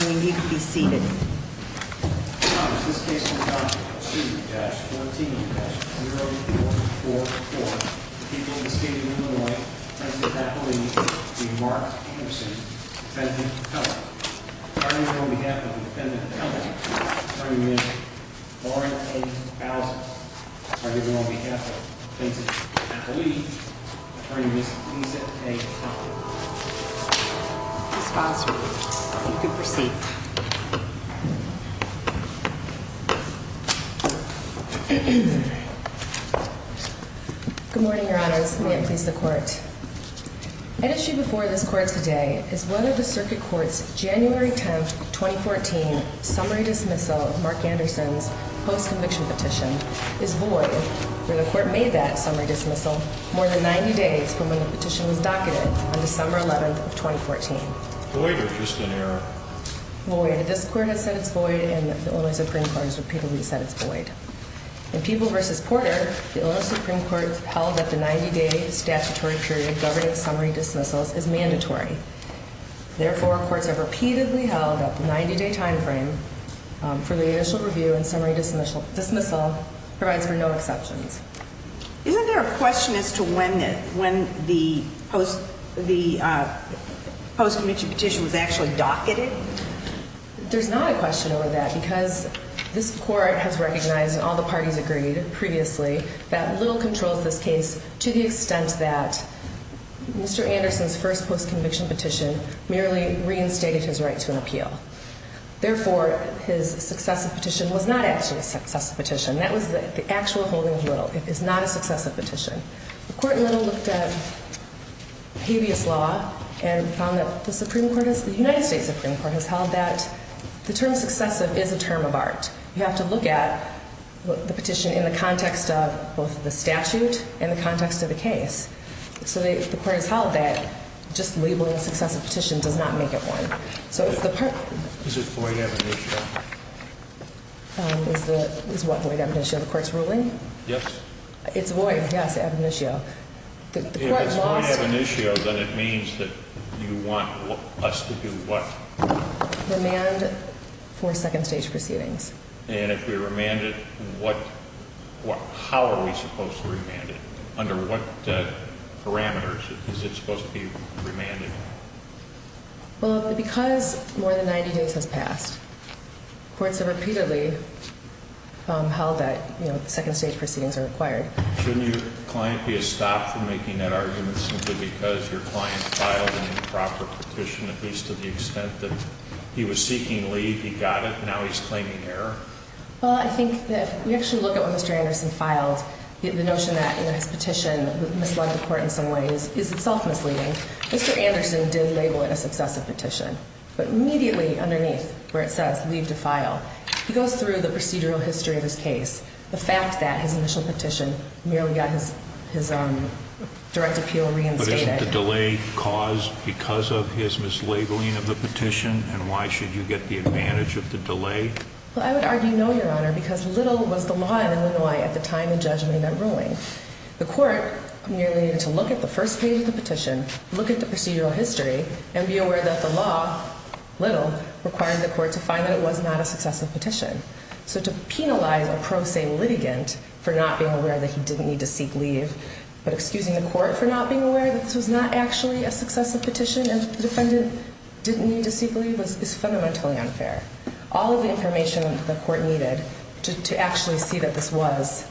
need to be seeded This case for this court today is one of the circuit courts January 10th 2014 summary dismissal of Mark Anderson's post-conviction petition is void for the court made that summary dismissal more than 90 days from when the petition was void. This court has said it's void and the only Supreme Court has repeatedly said it's void and people versus Porter. The Supreme Court held that the 90 days statutory period governing summary dismissals is mandatory. Therefore, courts have repeatedly held up 90 day time frame for the initial review and summary dismissal dismissal provides for no exceptions. Isn't there a question as to when when the post the post-conviction petition was actually docketed? There's not a question over that because this court has recognized and all the parties agreed previously that little controls this case to the extent that Mr. Anderson's first post-conviction petition merely reinstated his right to an appeal. Therefore, his successive petition was not actually a successive petition. That was the actual holding of little. It is not a successive petition. The court little looked at previous law and found the Supreme Court is the United States Supreme Court has held that the term successive is a term of art. You have to look at the petition in the context of both the statute and the context of the case. So the court is held that just labeling successive petition does not make it one. So it's the part. Is it for you? Is the is what way to have an issue of the court's ruling? Yes, it's void. Yes, I have an issue. If it's void of an issue, then it means that you want us to do what? Remand for second stage proceedings. And if we remanded what? What? How are we supposed to remand it? Under what parameters is it supposed to be remanded? Well, because more than 90 days has passed, courts have repeatedly held that second stage proceedings are required. Should your client be a stop from making that argument simply because your client filed an improper petition, at least to the extent that he was seeking leave, he got it. Now he's claiming error. Well, I think that we actually look at what Mr Anderson filed. The notion that his petition misled the court in some ways is itself misleading. Mr Anderson did label it a successive petition, but immediately underneath where it says leave to file, he goes through the procedural history of his case. The fact that his initial petition merely got his his direct appeal reinstated delay caused because of his mislabeling of the petition. And why should you get the advantage of the delay? Well, I would argue no, Your Honor, because little was the law in Illinois at the time of judgment that ruling the court nearly needed to look at the first page of the petition, look at the procedural history and be aware that the law little required the court to find that it was not a successive petition. So to penalize a pro se litigant for not being aware that he didn't need to seek leave, but excusing the court for not being aware that this was not actually a successive petition and defendant didn't need to seek leave is fundamentally unfair. All of the information the court needed to actually see that this was,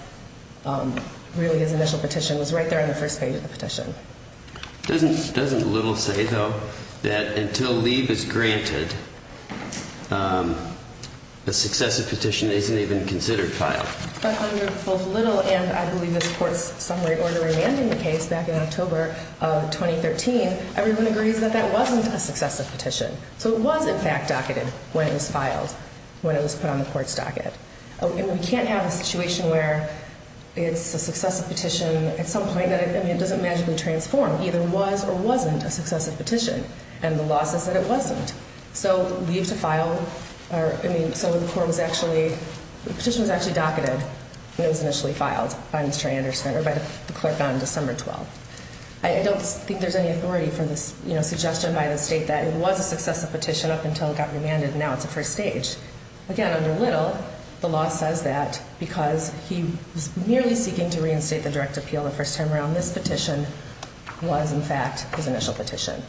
um, really his initial petition was right there in the first page of the petition. Doesn't little say, though, that until leave is granted, um, a successive petition isn't even considered filed. But under both little and I believe this court's summary ordering ending the case back in October of 2013, everyone agrees that that wasn't a successive petition. So it was, in fact, docketed when it was filed, when it was put on the court's docket. We can't have a situation where it's a successive petition at some was or wasn't a successive petition, and the losses that it wasn't so leave to file. So the court was actually just was actually docketed when it was initially filed by Mr Anderson or by the clerk on December 12. I don't think there's any authority for this suggestion by the state that it was a successive petition up until it got remanded. Now it's a first stage again under little. The law says that because he was merely seeking to reinstate the direct appeal the first time around, this petition was, in fact, his initial petition.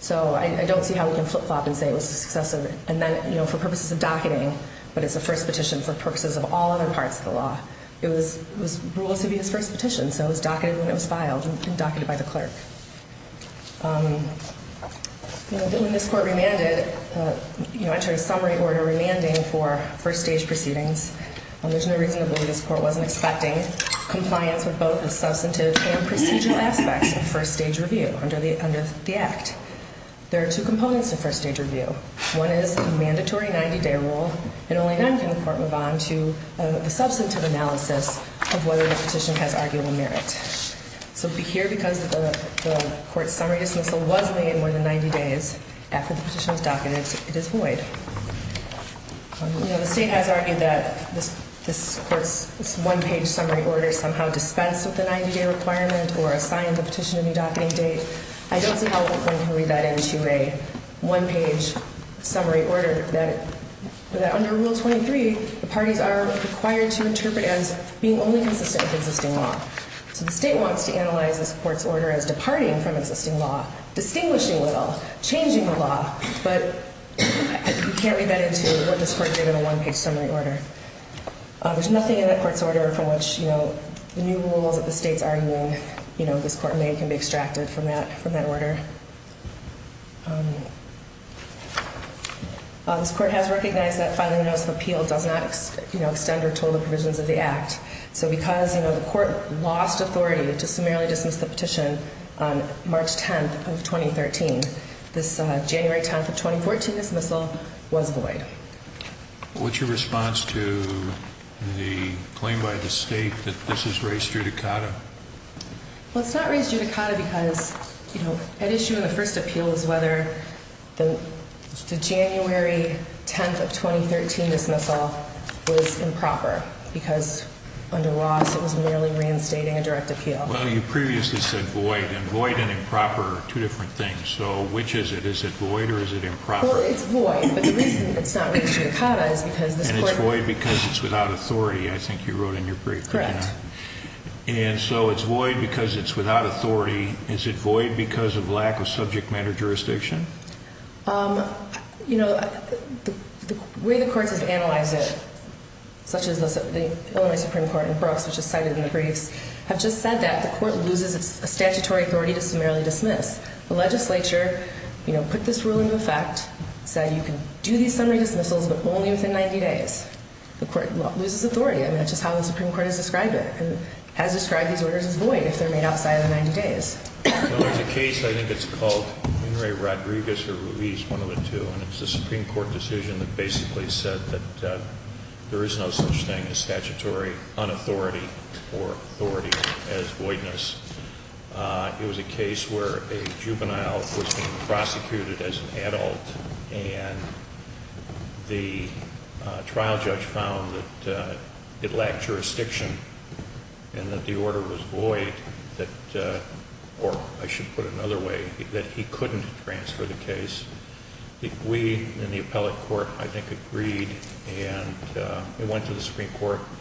So I don't see how we can flip flop and say it was successive. And then, you know, for purposes of docketing, but it's the first petition for purposes of all other parts of the law. It was was rules to be his first petition, so it was docketed when it was filed and docketed by the clerk. Um, you know, when this court remanded, you know, entering summary order remanding for first stage proceedings, there's no reason to believe this court wasn't expecting compliance with both the substantive and procedural aspects of first stage review under the under the act. There are two components of first stage review. One is a mandatory 90 day rule, and only then can the court move on to the substantive analysis of whether the petition has arguable merit. So here, because the court summary dismissal was made more than 90 days after the petition was docketed, it is void. You know, the state has argued that this this court's one page summary order somehow dispensed with the 90 day requirement or assigned the petition to be docketing date. I don't see how we can read that into a one page summary order that under Rule 23, the parties are required to interpret as being only consistent with existing law. So the state wants to analyze this court's order as departing from existing law, distinguishing little changing the law. But you can't read that into what this court did in a one page summary order. There's nothing in that court's order from which, you know, new rules that the state's arguing, you know, this court may can be extracted from that from that order. This court has recognized that filing notice of appeal does not extend or total provisions of the act. So because, you know, the court lost authority to 10 of 2013, this January 10th of 2014 dismissal was void. What's your response to the claim by the state that this is raised judicata? Well, it's not raised judicata because, you know, an issue in the first appeal is whether the January 10th of 2013 dismissal was improper because under loss, it was merely reinstating a direct appeal. Well, you previously said void and void and improper are two different things. So which is it? Is it void or is it improper? It's void, but the reason it's not raised judicata is because it's void because it's without authority. I think you wrote in your brief. Correct. And so it's void because it's without authority. Is it void because of lack of subject matter jurisdiction? Um, you know, the way the court has analyzed it, such as the only Supreme Court in Brooks, which is cited in the briefs, have just said that the court loses its statutory authority to summarily dismiss. The legislature, you know, put this rule into effect, said you can do these summary dismissals, but only within 90 days. The court loses authority. I mean, that's just how the Supreme Court has described it and has described these orders as void if they're made outside of the 90 days. In the case, I think it's called Henry Rodriguez or Ruiz, one of the two, and it's the Supreme Court decision that basically said that there is no such thing as statutory unauthority or authority as voidness. It was a case where a juvenile was being prosecuted as an adult, and the trial judge found that it lacked jurisdiction and that the order was void that or I should put another way that he couldn't transfer the case. We in the appellate court, I court,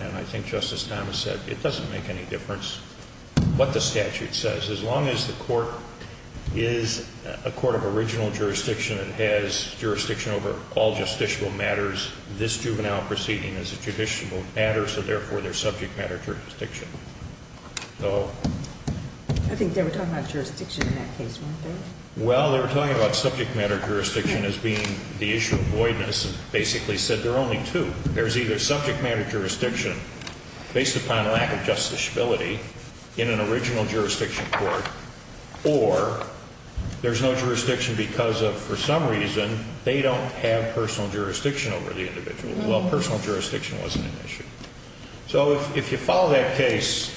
and I think Justice Thomas said it doesn't make any difference what the statute says. As long as the court is a court of original jurisdiction, it has jurisdiction over all justiciable matters. This juvenile proceeding is a judicial matter, so therefore their subject matter jurisdiction. So I think they were talking about jurisdiction in that case. Well, they were talking about subject matter. Jurisdiction is being the issue of voidness basically said there are only two. There's either subject matter jurisdiction based upon lack of justiciability in an original jurisdiction court or there's no jurisdiction because of for some reason they don't have personal jurisdiction over the individual. Well, personal jurisdiction wasn't an issue. So if you follow that case,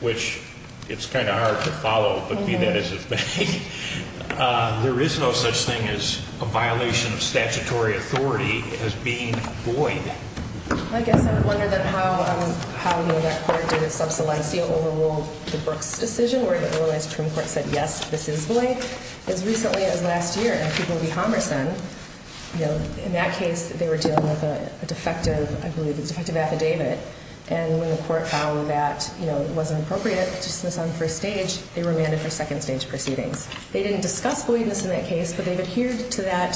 which it's kind of hard to follow, but be that as it may, there is no such thing as a violation of statutory authority as being void. I guess I wonder then how how that court did it. Subsidized seal overruled the Brooks decision where it was. Trim court said yes, this is Blake. As recently as last year, people would be homicide. You know, in that case, they were dealing with a defective. I believe it's effective affidavit. And when the court found that, you know, it wasn't appropriate to dismiss on first stage, they were mandated for second stage proceedings. They didn't discuss believe this in that case, but they've adhered to that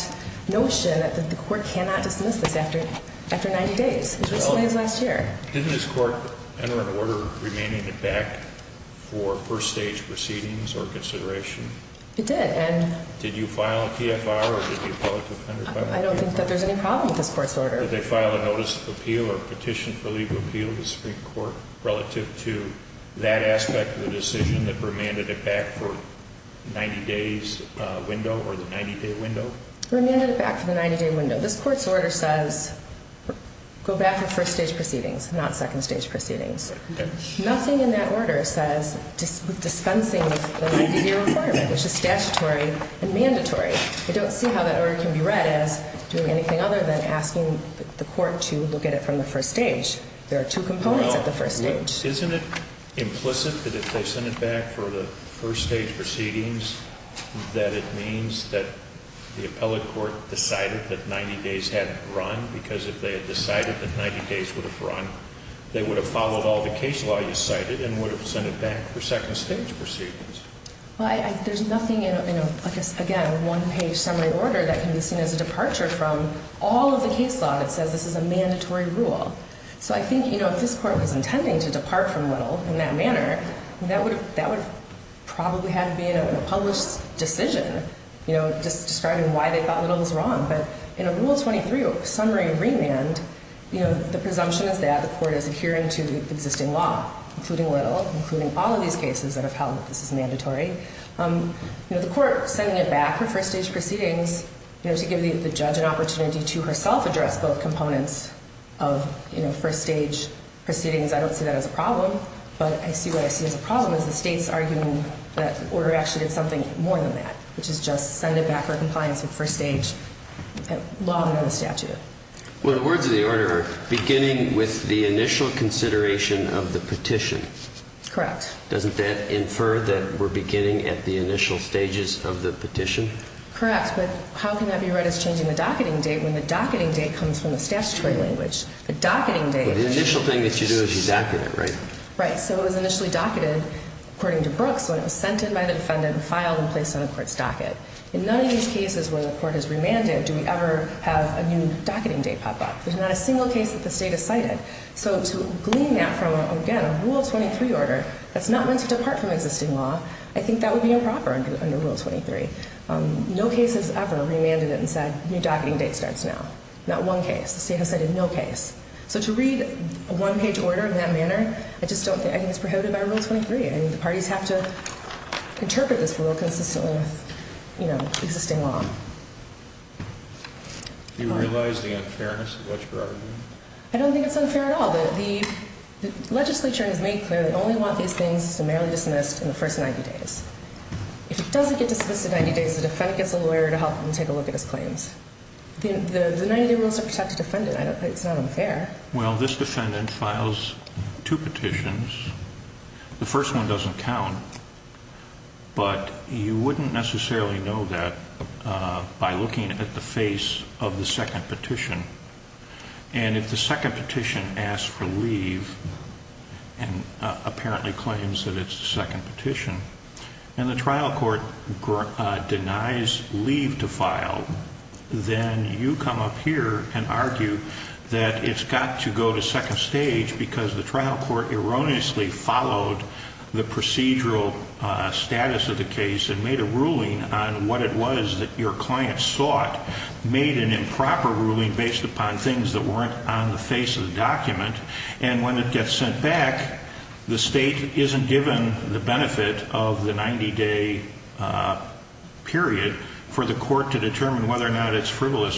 notion that the court cannot dismiss this after after 90 days, as recently as last year, this court enter an order remaining it back for first stage proceedings or consideration. It did. And did you file a PFR? I don't think that there's any problem with this court's order. They file a notice of appeal or petition for legal appeal to Supreme Court relative to that aspect of the decision that remanded it back for 90 days window or the 90 day window remanded it back for the 90 day window. This court's order says go back for first stage proceedings, not second stage proceedings. Nothing in that order says dispensing, which is statutory and mandatory. I don't see how that order can be read as doing anything other than asking the court to look at it from the first stage. There are two components at the first stage. Isn't it implicit that if they send it back for the first stage proceedings that it means that the appellate court decided that 90 days hadn't run because if they had decided that 90 days would have run, they would have followed all the case law you cited and would have sent it back for second stage proceedings. There's nothing in a one-page summary order that can be seen as a departure from all of the case law that says this is a mandatory rule. So I think, you know, if this court was intending to depart from Little in that would probably have been a published decision, you know, just describing why they thought Little was wrong. But in a Rule 23 summary remand, you know, the presumption is that the court is adhering to the existing law, including Little, including all of these cases that have held that this is mandatory. You know, the court sending it back for first stage proceedings, you know, to give the judge an opportunity to herself address both components of, you know, first stage proceedings. I don't see that as a problem, but I see what I see as a problem is the state's arguing that the order actually did something more than that, which is just send it back for compliance with first stage law and another statute. Well, the words of the order are beginning with the initial consideration of the petition. Correct. Doesn't that infer that we're beginning at the initial stages of the petition? Correct. But how can that be read as changing the docketing date when the docketing date comes from the statutory language? The initial thing that you do is you docket it, right? Right. So it was according to Brooks when it was sent in by the defendant, filed and placed on the court's docket. In none of these cases where the court has remanded, do we ever have a new docketing date pop up? There's not a single case that the state has cited. So to glean that from again, a Rule 23 order that's not meant to depart from existing law, I think that would be improper under Rule 23. No case has ever remanded it and said, new docketing date starts now. Not one case. The state has cited no case. So to read a one page order in that manner, I think the parties have to interpret this rule consistently with, you know, existing law. Do you realize the unfairness of what you're arguing? I don't think it's unfair at all. The legislature has made clear they only want these things summarily dismissed in the first 90 days. If it doesn't get dismissed in 90 days, the defendant gets a lawyer to help them take a look at his claims. The 90 day rules to protect a defendant. I don't think it's not unfair. Well, this defendant files two petitions. The first one doesn't count, but you wouldn't necessarily know that by looking at the face of the second petition. And if the second petition asked for leave and apparently claims that it's the second petition and the trial court denies leave to file, then you come up here and argue that it's got to go to second stage because the trial court erroneously followed the procedural status of the case and made a ruling on what it was that your client sought made an improper ruling based upon things that weren't on the face of the document. And when it gets sent back, the state isn't given the benefit of the 90 day, uh, period for the court to determine whether or not it's frivolous.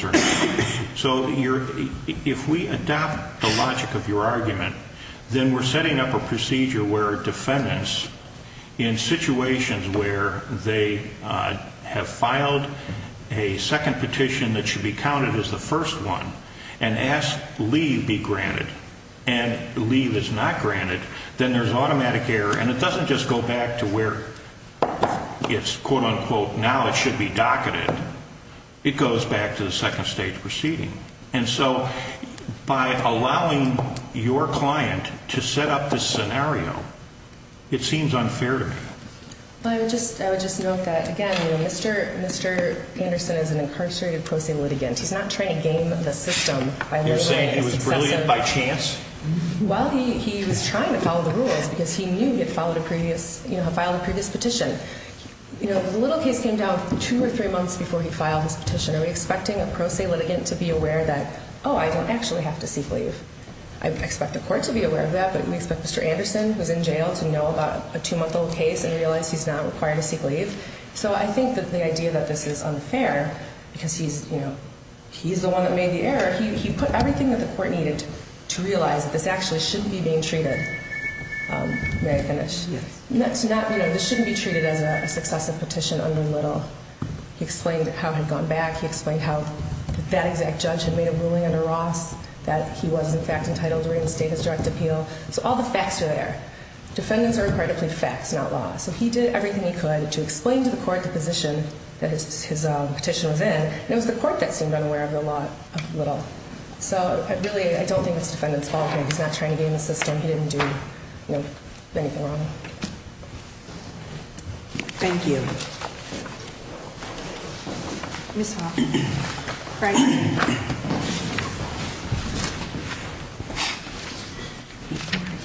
So if we adopt the logic of your argument, then we're setting up a procedure where defendants in situations where they have filed a second petition that should be counted as the first one and asked leave be granted and leave is not granted, then there's automatic error. And it doesn't just go back to where it's quote unquote. Now it should be docketed. It goes back to the second stage proceeding. And so by allowing your client to set up this scenario, it seems unfair to me. I would just, I would just note that again, Mr Mr Anderson is an incarcerated pro se litigant. He's not trying to gain the system. You're saying it was brilliant by chance. Well, he was trying to follow the rules because he knew he had followed a previous, you know, filed a previous petition. You know, the little case came down two or three months before he filed his petition. Are we expecting a pro se litigant to be aware that, oh, I don't actually have to seek leave. I expect the court to be aware of that. But we expect Mr Anderson was in jail to know about a two month old case and realize he's not required to seek leave. So I think that the idea that this is unfair because he's, you know, he's the one that made the error. He put everything that the court needed to realize that this actually shouldn't be being treated. Um, he explained how had gone back. He explained how that exact judge had made a ruling under Ross that he was in fact entitled to reinstate his direct appeal. So all the facts are there. Defendants are required to play facts, not law. So he did everything he could to explain to the court the position that his petition was in. And it was the court that seemed unaware of the lot of little. So I really, I don't think it's defendants fault. He's not trying to be in the system. He didn't do anything wrong. Mhm. Thank you. Yes. Right. Before I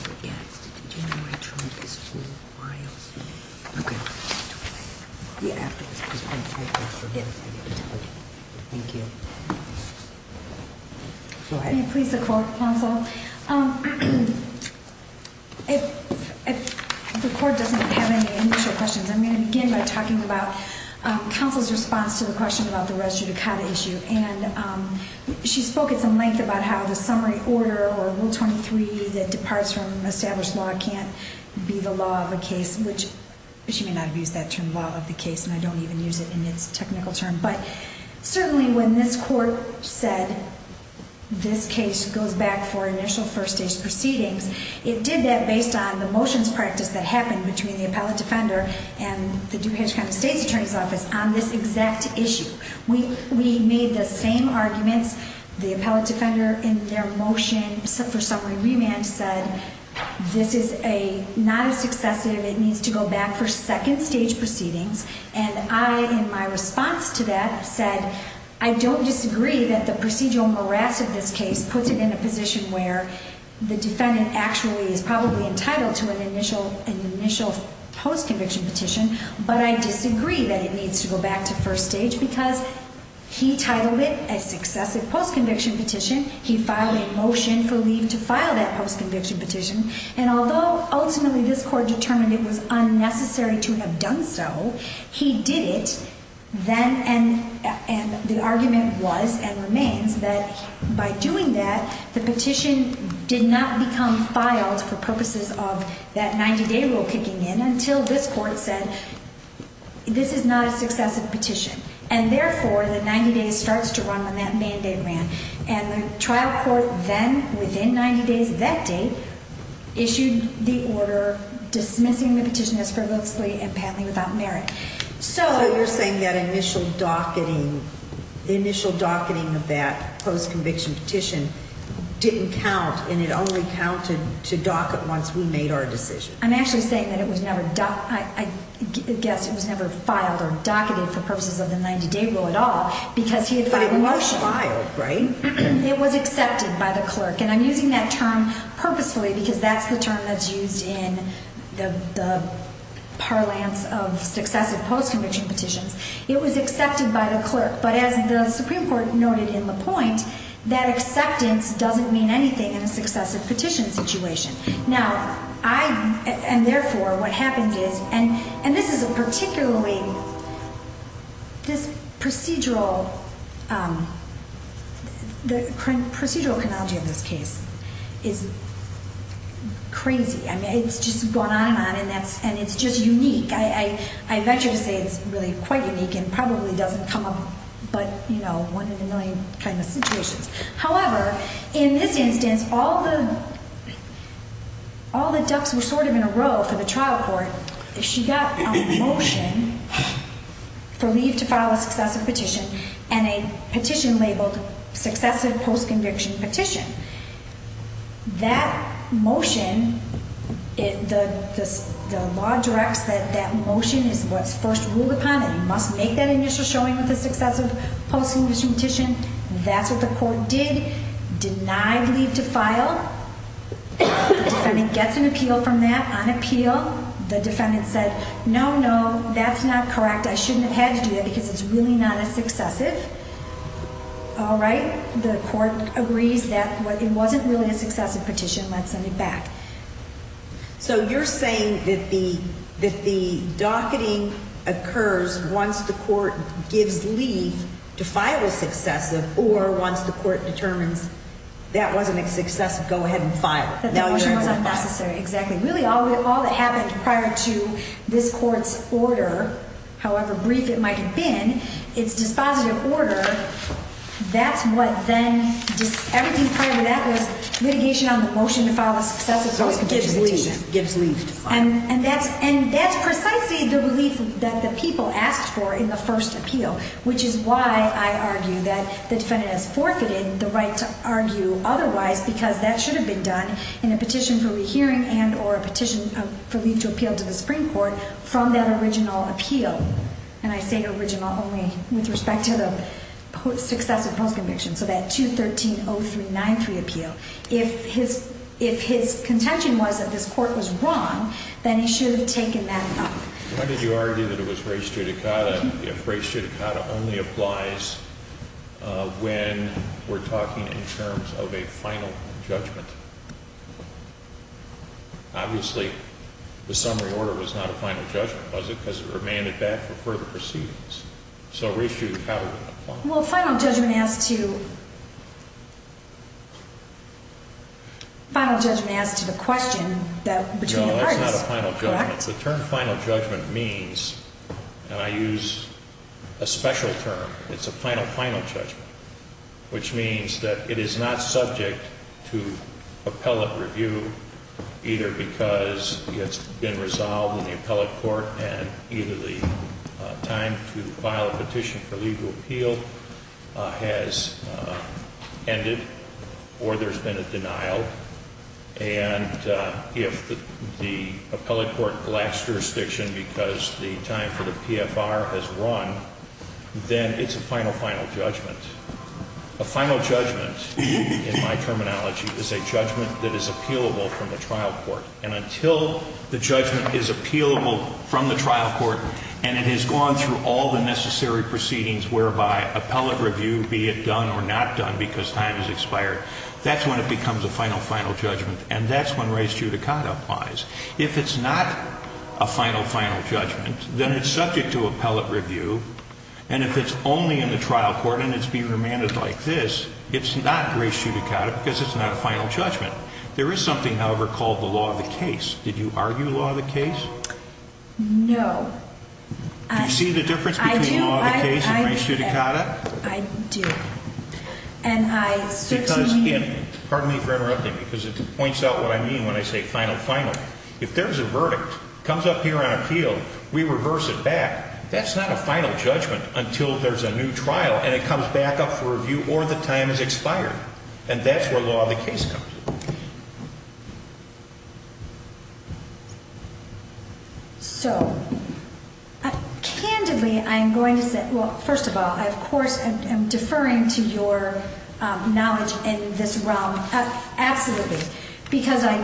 forget, yeah. Thank you. Go ahead. Please. The court counsel. Um, if the court doesn't have any initial questions, I'm going to begin by talking about council's response to the question about the rest of the kind of issue. And, um, she spoke at some length about how the summary order or will 23 that departs from established law can't be the law of the case, which she may not have used that term law of the case. And I don't even use it in its technical term. But certainly when this court said this case goes back for initial first stage proceedings, it did that based on the motions practice that happened between the appellate defender and the Dukas kind of state's attorney's office on this exact issue. We made the same arguments. The appellate defender in their motion for summary remand said this is a not a successive. It needs to go back for second stage proceedings. And I, in my response to that said, I don't disagree that the procedural morass of this case puts it in a position where the defendant actually is probably entitled to an initial initial post conviction petition. But I disagree that it needs to go back to first stage because he titled it a successive post conviction petition. He filed a motion for leave to file that post conviction petition. And although ultimately this court determined it was unnecessary to have done so, he did it then. And the argument was and remains that by doing that, the petition did not become filed for purposes of that 90 day rule kicking in until this court said this is not a successive petition and therefore the 90 days starts to run when that mandate ran and the trial court then within 90 days that day issued the order dismissing the petition is for mostly and patently without merit. So you're saying that initial docketing initial docketing of that post conviction petition didn't count and it only counted to docket. Once we made our decision, I'm actually saying that it was never I guess it was never filed or docketed for purposes of the 90 day rule at all because he was filed, right? It was accepted by the clerk and I'm using that term purposefully because that's the term that's used in the parlance of successive post conviction petitions. It was accepted by the clerk. But as the Supreme Court noted in the point, that acceptance doesn't mean anything in a successive petition situation. Now I and therefore what happens is and and this is a particularly this procedural um the procedural chronology of this case is crazy. I mean it's just going on and on and that's and it's just unique. I I venture to say it's really quite unique and probably doesn't come up but you know one in a million kind of situations. However in this instance all the all the ducks were sort of in a row for the trial court. She got a motion for leave to file a successive petition and a petition labeled successive post conviction petition. That motion, the law directs that that motion is what's first ruled upon and you must make that initial showing with the successive post conviction petition. That's what the court did. Denied leave to file. The defendant gets an appeal from that on appeal. The defendant said no, no, that's not correct. I shouldn't have had to do that because it's really not a it wasn't really a successive petition. Let's send it back. So you're saying that the that the docketing occurs once the court gives leave to file a successive or once the court determines that wasn't a successive, go ahead and file that motion was unnecessary. Exactly. Really all we all that happened prior to this court's order, however brief it might have been, it's dispositive order. That's what then everything prior to that was litigation on the motion to file a successive gives leaves and that's and that's precisely the belief that the people asked for in the first appeal, which is why I argue that the defendant has forfeited the right to argue otherwise because that should have been done in a petition for rehearing and or a petition for leave to appeal to the Supreme Court from that original appeal. And I say original only with respect to the success of post conviction. So that to 13 oh 393 appeal, if his if his contention was that this court was wrong, then he should have taken that up. Why did you argue that it was race judicata? If race judicata only applies when we're talking in terms of a final judgment. Obviously, the summary order was not a final judgment, was it? Because it remained at that for further proceedings. So race judicata. Well, final judgment as to final judgment as to the question that between the final judgment means and I use a special term. It's a final final judgment, which means that it is not subject to appellate review, either because it's been resolved in the appellate court and either the time to file a petition for legal appeal has ended or there's been a denial. And if the appellate court last jurisdiction because the time for the PFR has run, then it's a final final judgment. A terminology is a judgment that is appealable from the trial court. And until the judgment is appealable from the trial court and it has gone through all the necessary proceedings whereby appellate review be it done or not done because time has expired. That's when it becomes a final final judgment. And that's when race judicata applies. If it's not a final final judgment, then it's subject to appellate review. And if it's only in the trial court and it's being remanded like this, it's not race judicata because it's not a final judgment. There is something, however, called the law of the case. Did you argue law of the case? No. I see the difference between the law of the case and race judicata. I do. And I certainly pardon me for interrupting because it points out what I mean when I say final final. If there's a verdict comes up here on appeal, we reverse it back. That's not a final judgment until there's a new trial and it comes back up for review or the time is expired. And that's where law of the case comes. So candidly, I'm going to say, well, first of all, of course, I'm deferring to your knowledge in this realm. Absolutely. Because I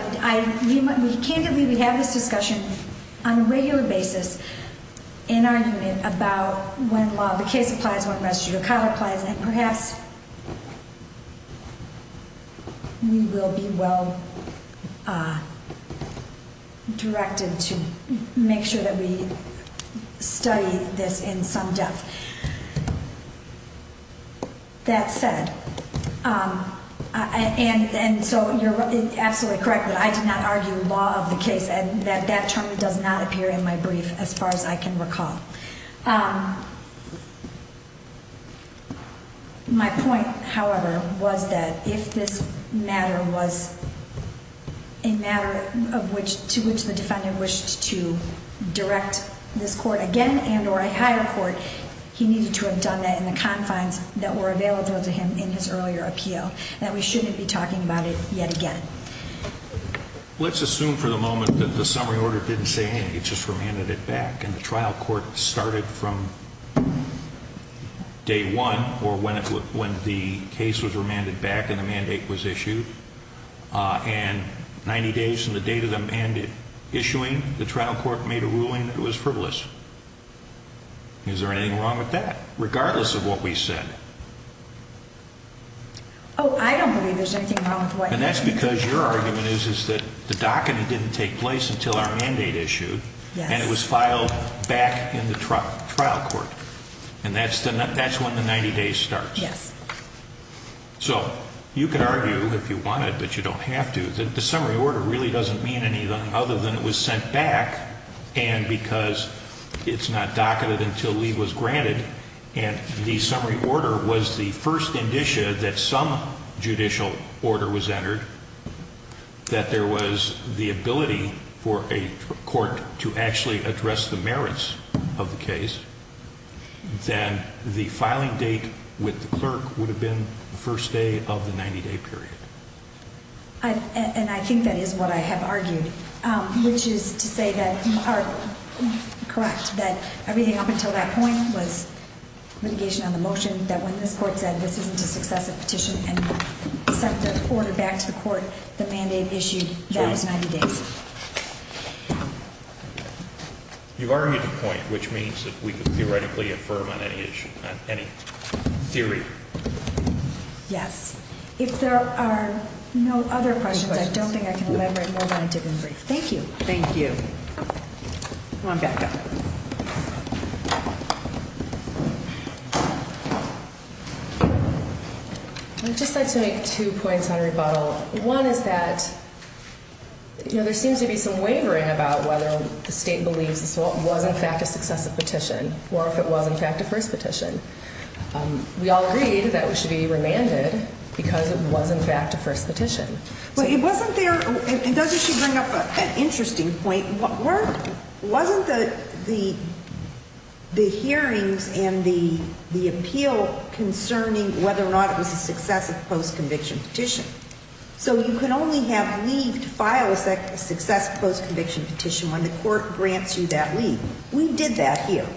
can't believe we have this discussion on a regular basis in our unit about when law of the case applies, when race judicata applies, and perhaps we will be well directed to make sure that we study this in some depth. That said, um, and so you're absolutely correct that I did not argue law of the case and that that term does not appear in my brief as far as I can recall. Um, my point, however, was that if this matter was a matter of which to which the defendant wished to direct this court again and or a higher court, he needed to have done that in the confines that were available to him in his earlier appeal that we shouldn't be talking about it yet again. Let's assume for the moment that the summary order didn't say anything. It just remanded it back and the trial court started from day one or when it when the case was remanded back in the mandate was issued on 90 days in the date of the mandate issuing the trial court made a ruling that was frivolous. Is there anything wrong with that? Regardless of what we said, Oh, I don't believe there's anything wrong with what? And that's because your argument is, is that the docket didn't take place until our mandate issued and it was filed back in the trial trial court. And that's that's when the 90 days start. Yes. So you can argue if you wanted, but you don't have to. The summary order really doesn't mean anything other than it was sent back. And because it's not docketed until Lee was granted and the summary order was the first indicia that some judicial order was entered, that there was the ability for a court to actually address the merits of the case. Then the filing date with the clerk would have been the first day of the 90 day period. I and I think that is what I have argued, which is to say that are correct that everything up until that point was litigation on the motion that when this court said this isn't a successive petition and sent the order back to the court, the mandate issued that was 90 days. You've argued the point, which means that we could theoretically affirm on any issue, any theory. Yes. If there are no other questions, I don't think I can elaborate more than I did in brief. Thank you. Thank you. Come on back up. I just like to make two points on rebuttal. One is that you know, there seems to be some wavering about whether the state believes this was in fact a successive petition or if it was in fact a first petition. Um, we all agreed that we should be remanded because it was in fact a first petition. But it wasn't there. And doesn't she bring up an wasn't the the the hearings and the appeal concerning whether or not it was a successive post conviction petition. So you could only have leave to file a success post conviction petition when the court grants you that leave. We did that here.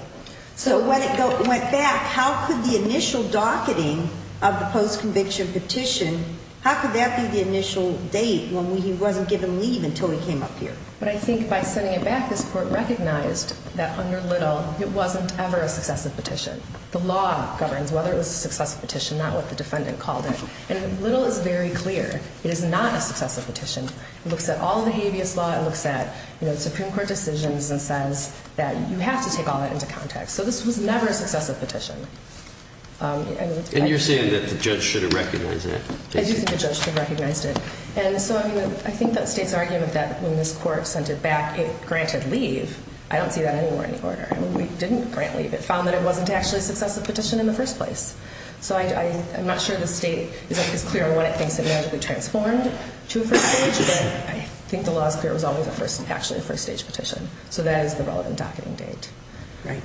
So when it went back, how could the initial docketing of the post conviction petition? How could that be the initial date when he wasn't given leave until he came up here? But I think by sending it back, this court recognized that under little it wasn't ever a successive petition. The law governs whether it was a successive petition, not what the defendant called it. And little is very clear. It is not a successive petition. It looks at all the habeas law. It looks at, you know, the Supreme Court decisions and says that you have to take all that into context. So this was never a successive petition. Um, and you're saying that the judge should have recognized it. I do think I think that state's argument that when this court sent it back, it granted leave. I don't see that anywhere in the order we didn't grant leave. It found that it wasn't actually successive petition in the first place. So I'm not sure the state is clear on what it thinks it magically transformed to a first stage. But I think the law's clear was always the first actually first stage petition. So that is the relevant docketing date. Right.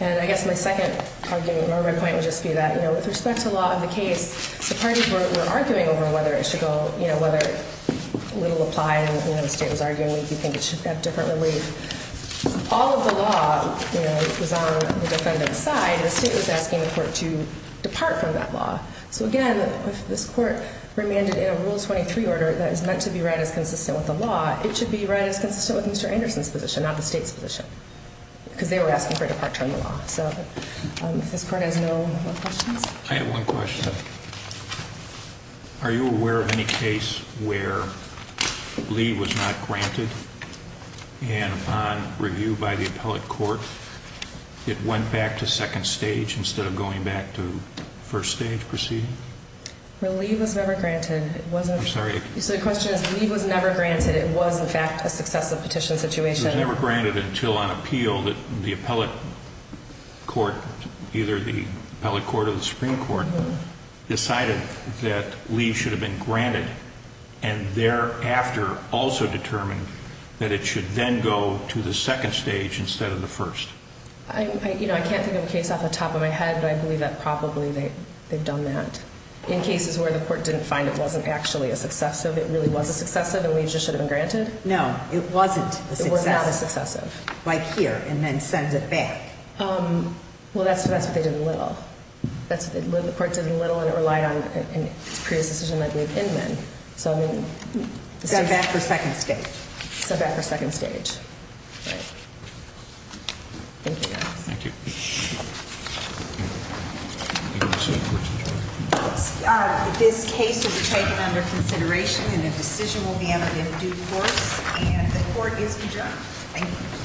And I guess my second argument or my point would just be that, you know, with respect to a lot of the case, the parties were arguing over whether it should go, you know, whether it will apply. You know, the state was arguing with you think it should have differently. All of the law was on the defendant's side. The state was asking the court to depart from that law. So again, if this court remanded in a rule 23 order that is meant to be read as consistent with the law, it should be read as consistent with Mr Anderson's position, not the state's position because they were asking for departure in the law. So this court has no more questions. I have one question. Are you aware of any case where leave was not granted and on review by the appellate court, it went back to second stage instead of going back to first stage proceeding. Relieve was never granted. It wasn't. Sorry. So the question is, leave was never granted. It was in fact a successive petition situation. Never granted until on appeal that the appellate court, either the appellate court of the Supreme Court decided that leave should have been granted and thereafter also determined that it should then go to the second stage instead of the first. You know, I can't think of a case off the top of my head, but I believe that probably they've done that in cases where the court didn't find it wasn't actually a successive. It really was a successive and we just should have been granted. No, it wasn't. It was not a little. That's what the court did a little and it relied on its previous decision. I believe in men. So I mean, it's got back for second state. So back for second stage. Thank you. Thank you. Uh, this case will be taken under consideration and the decision will be out in due course and the court is adjourned. Thank you.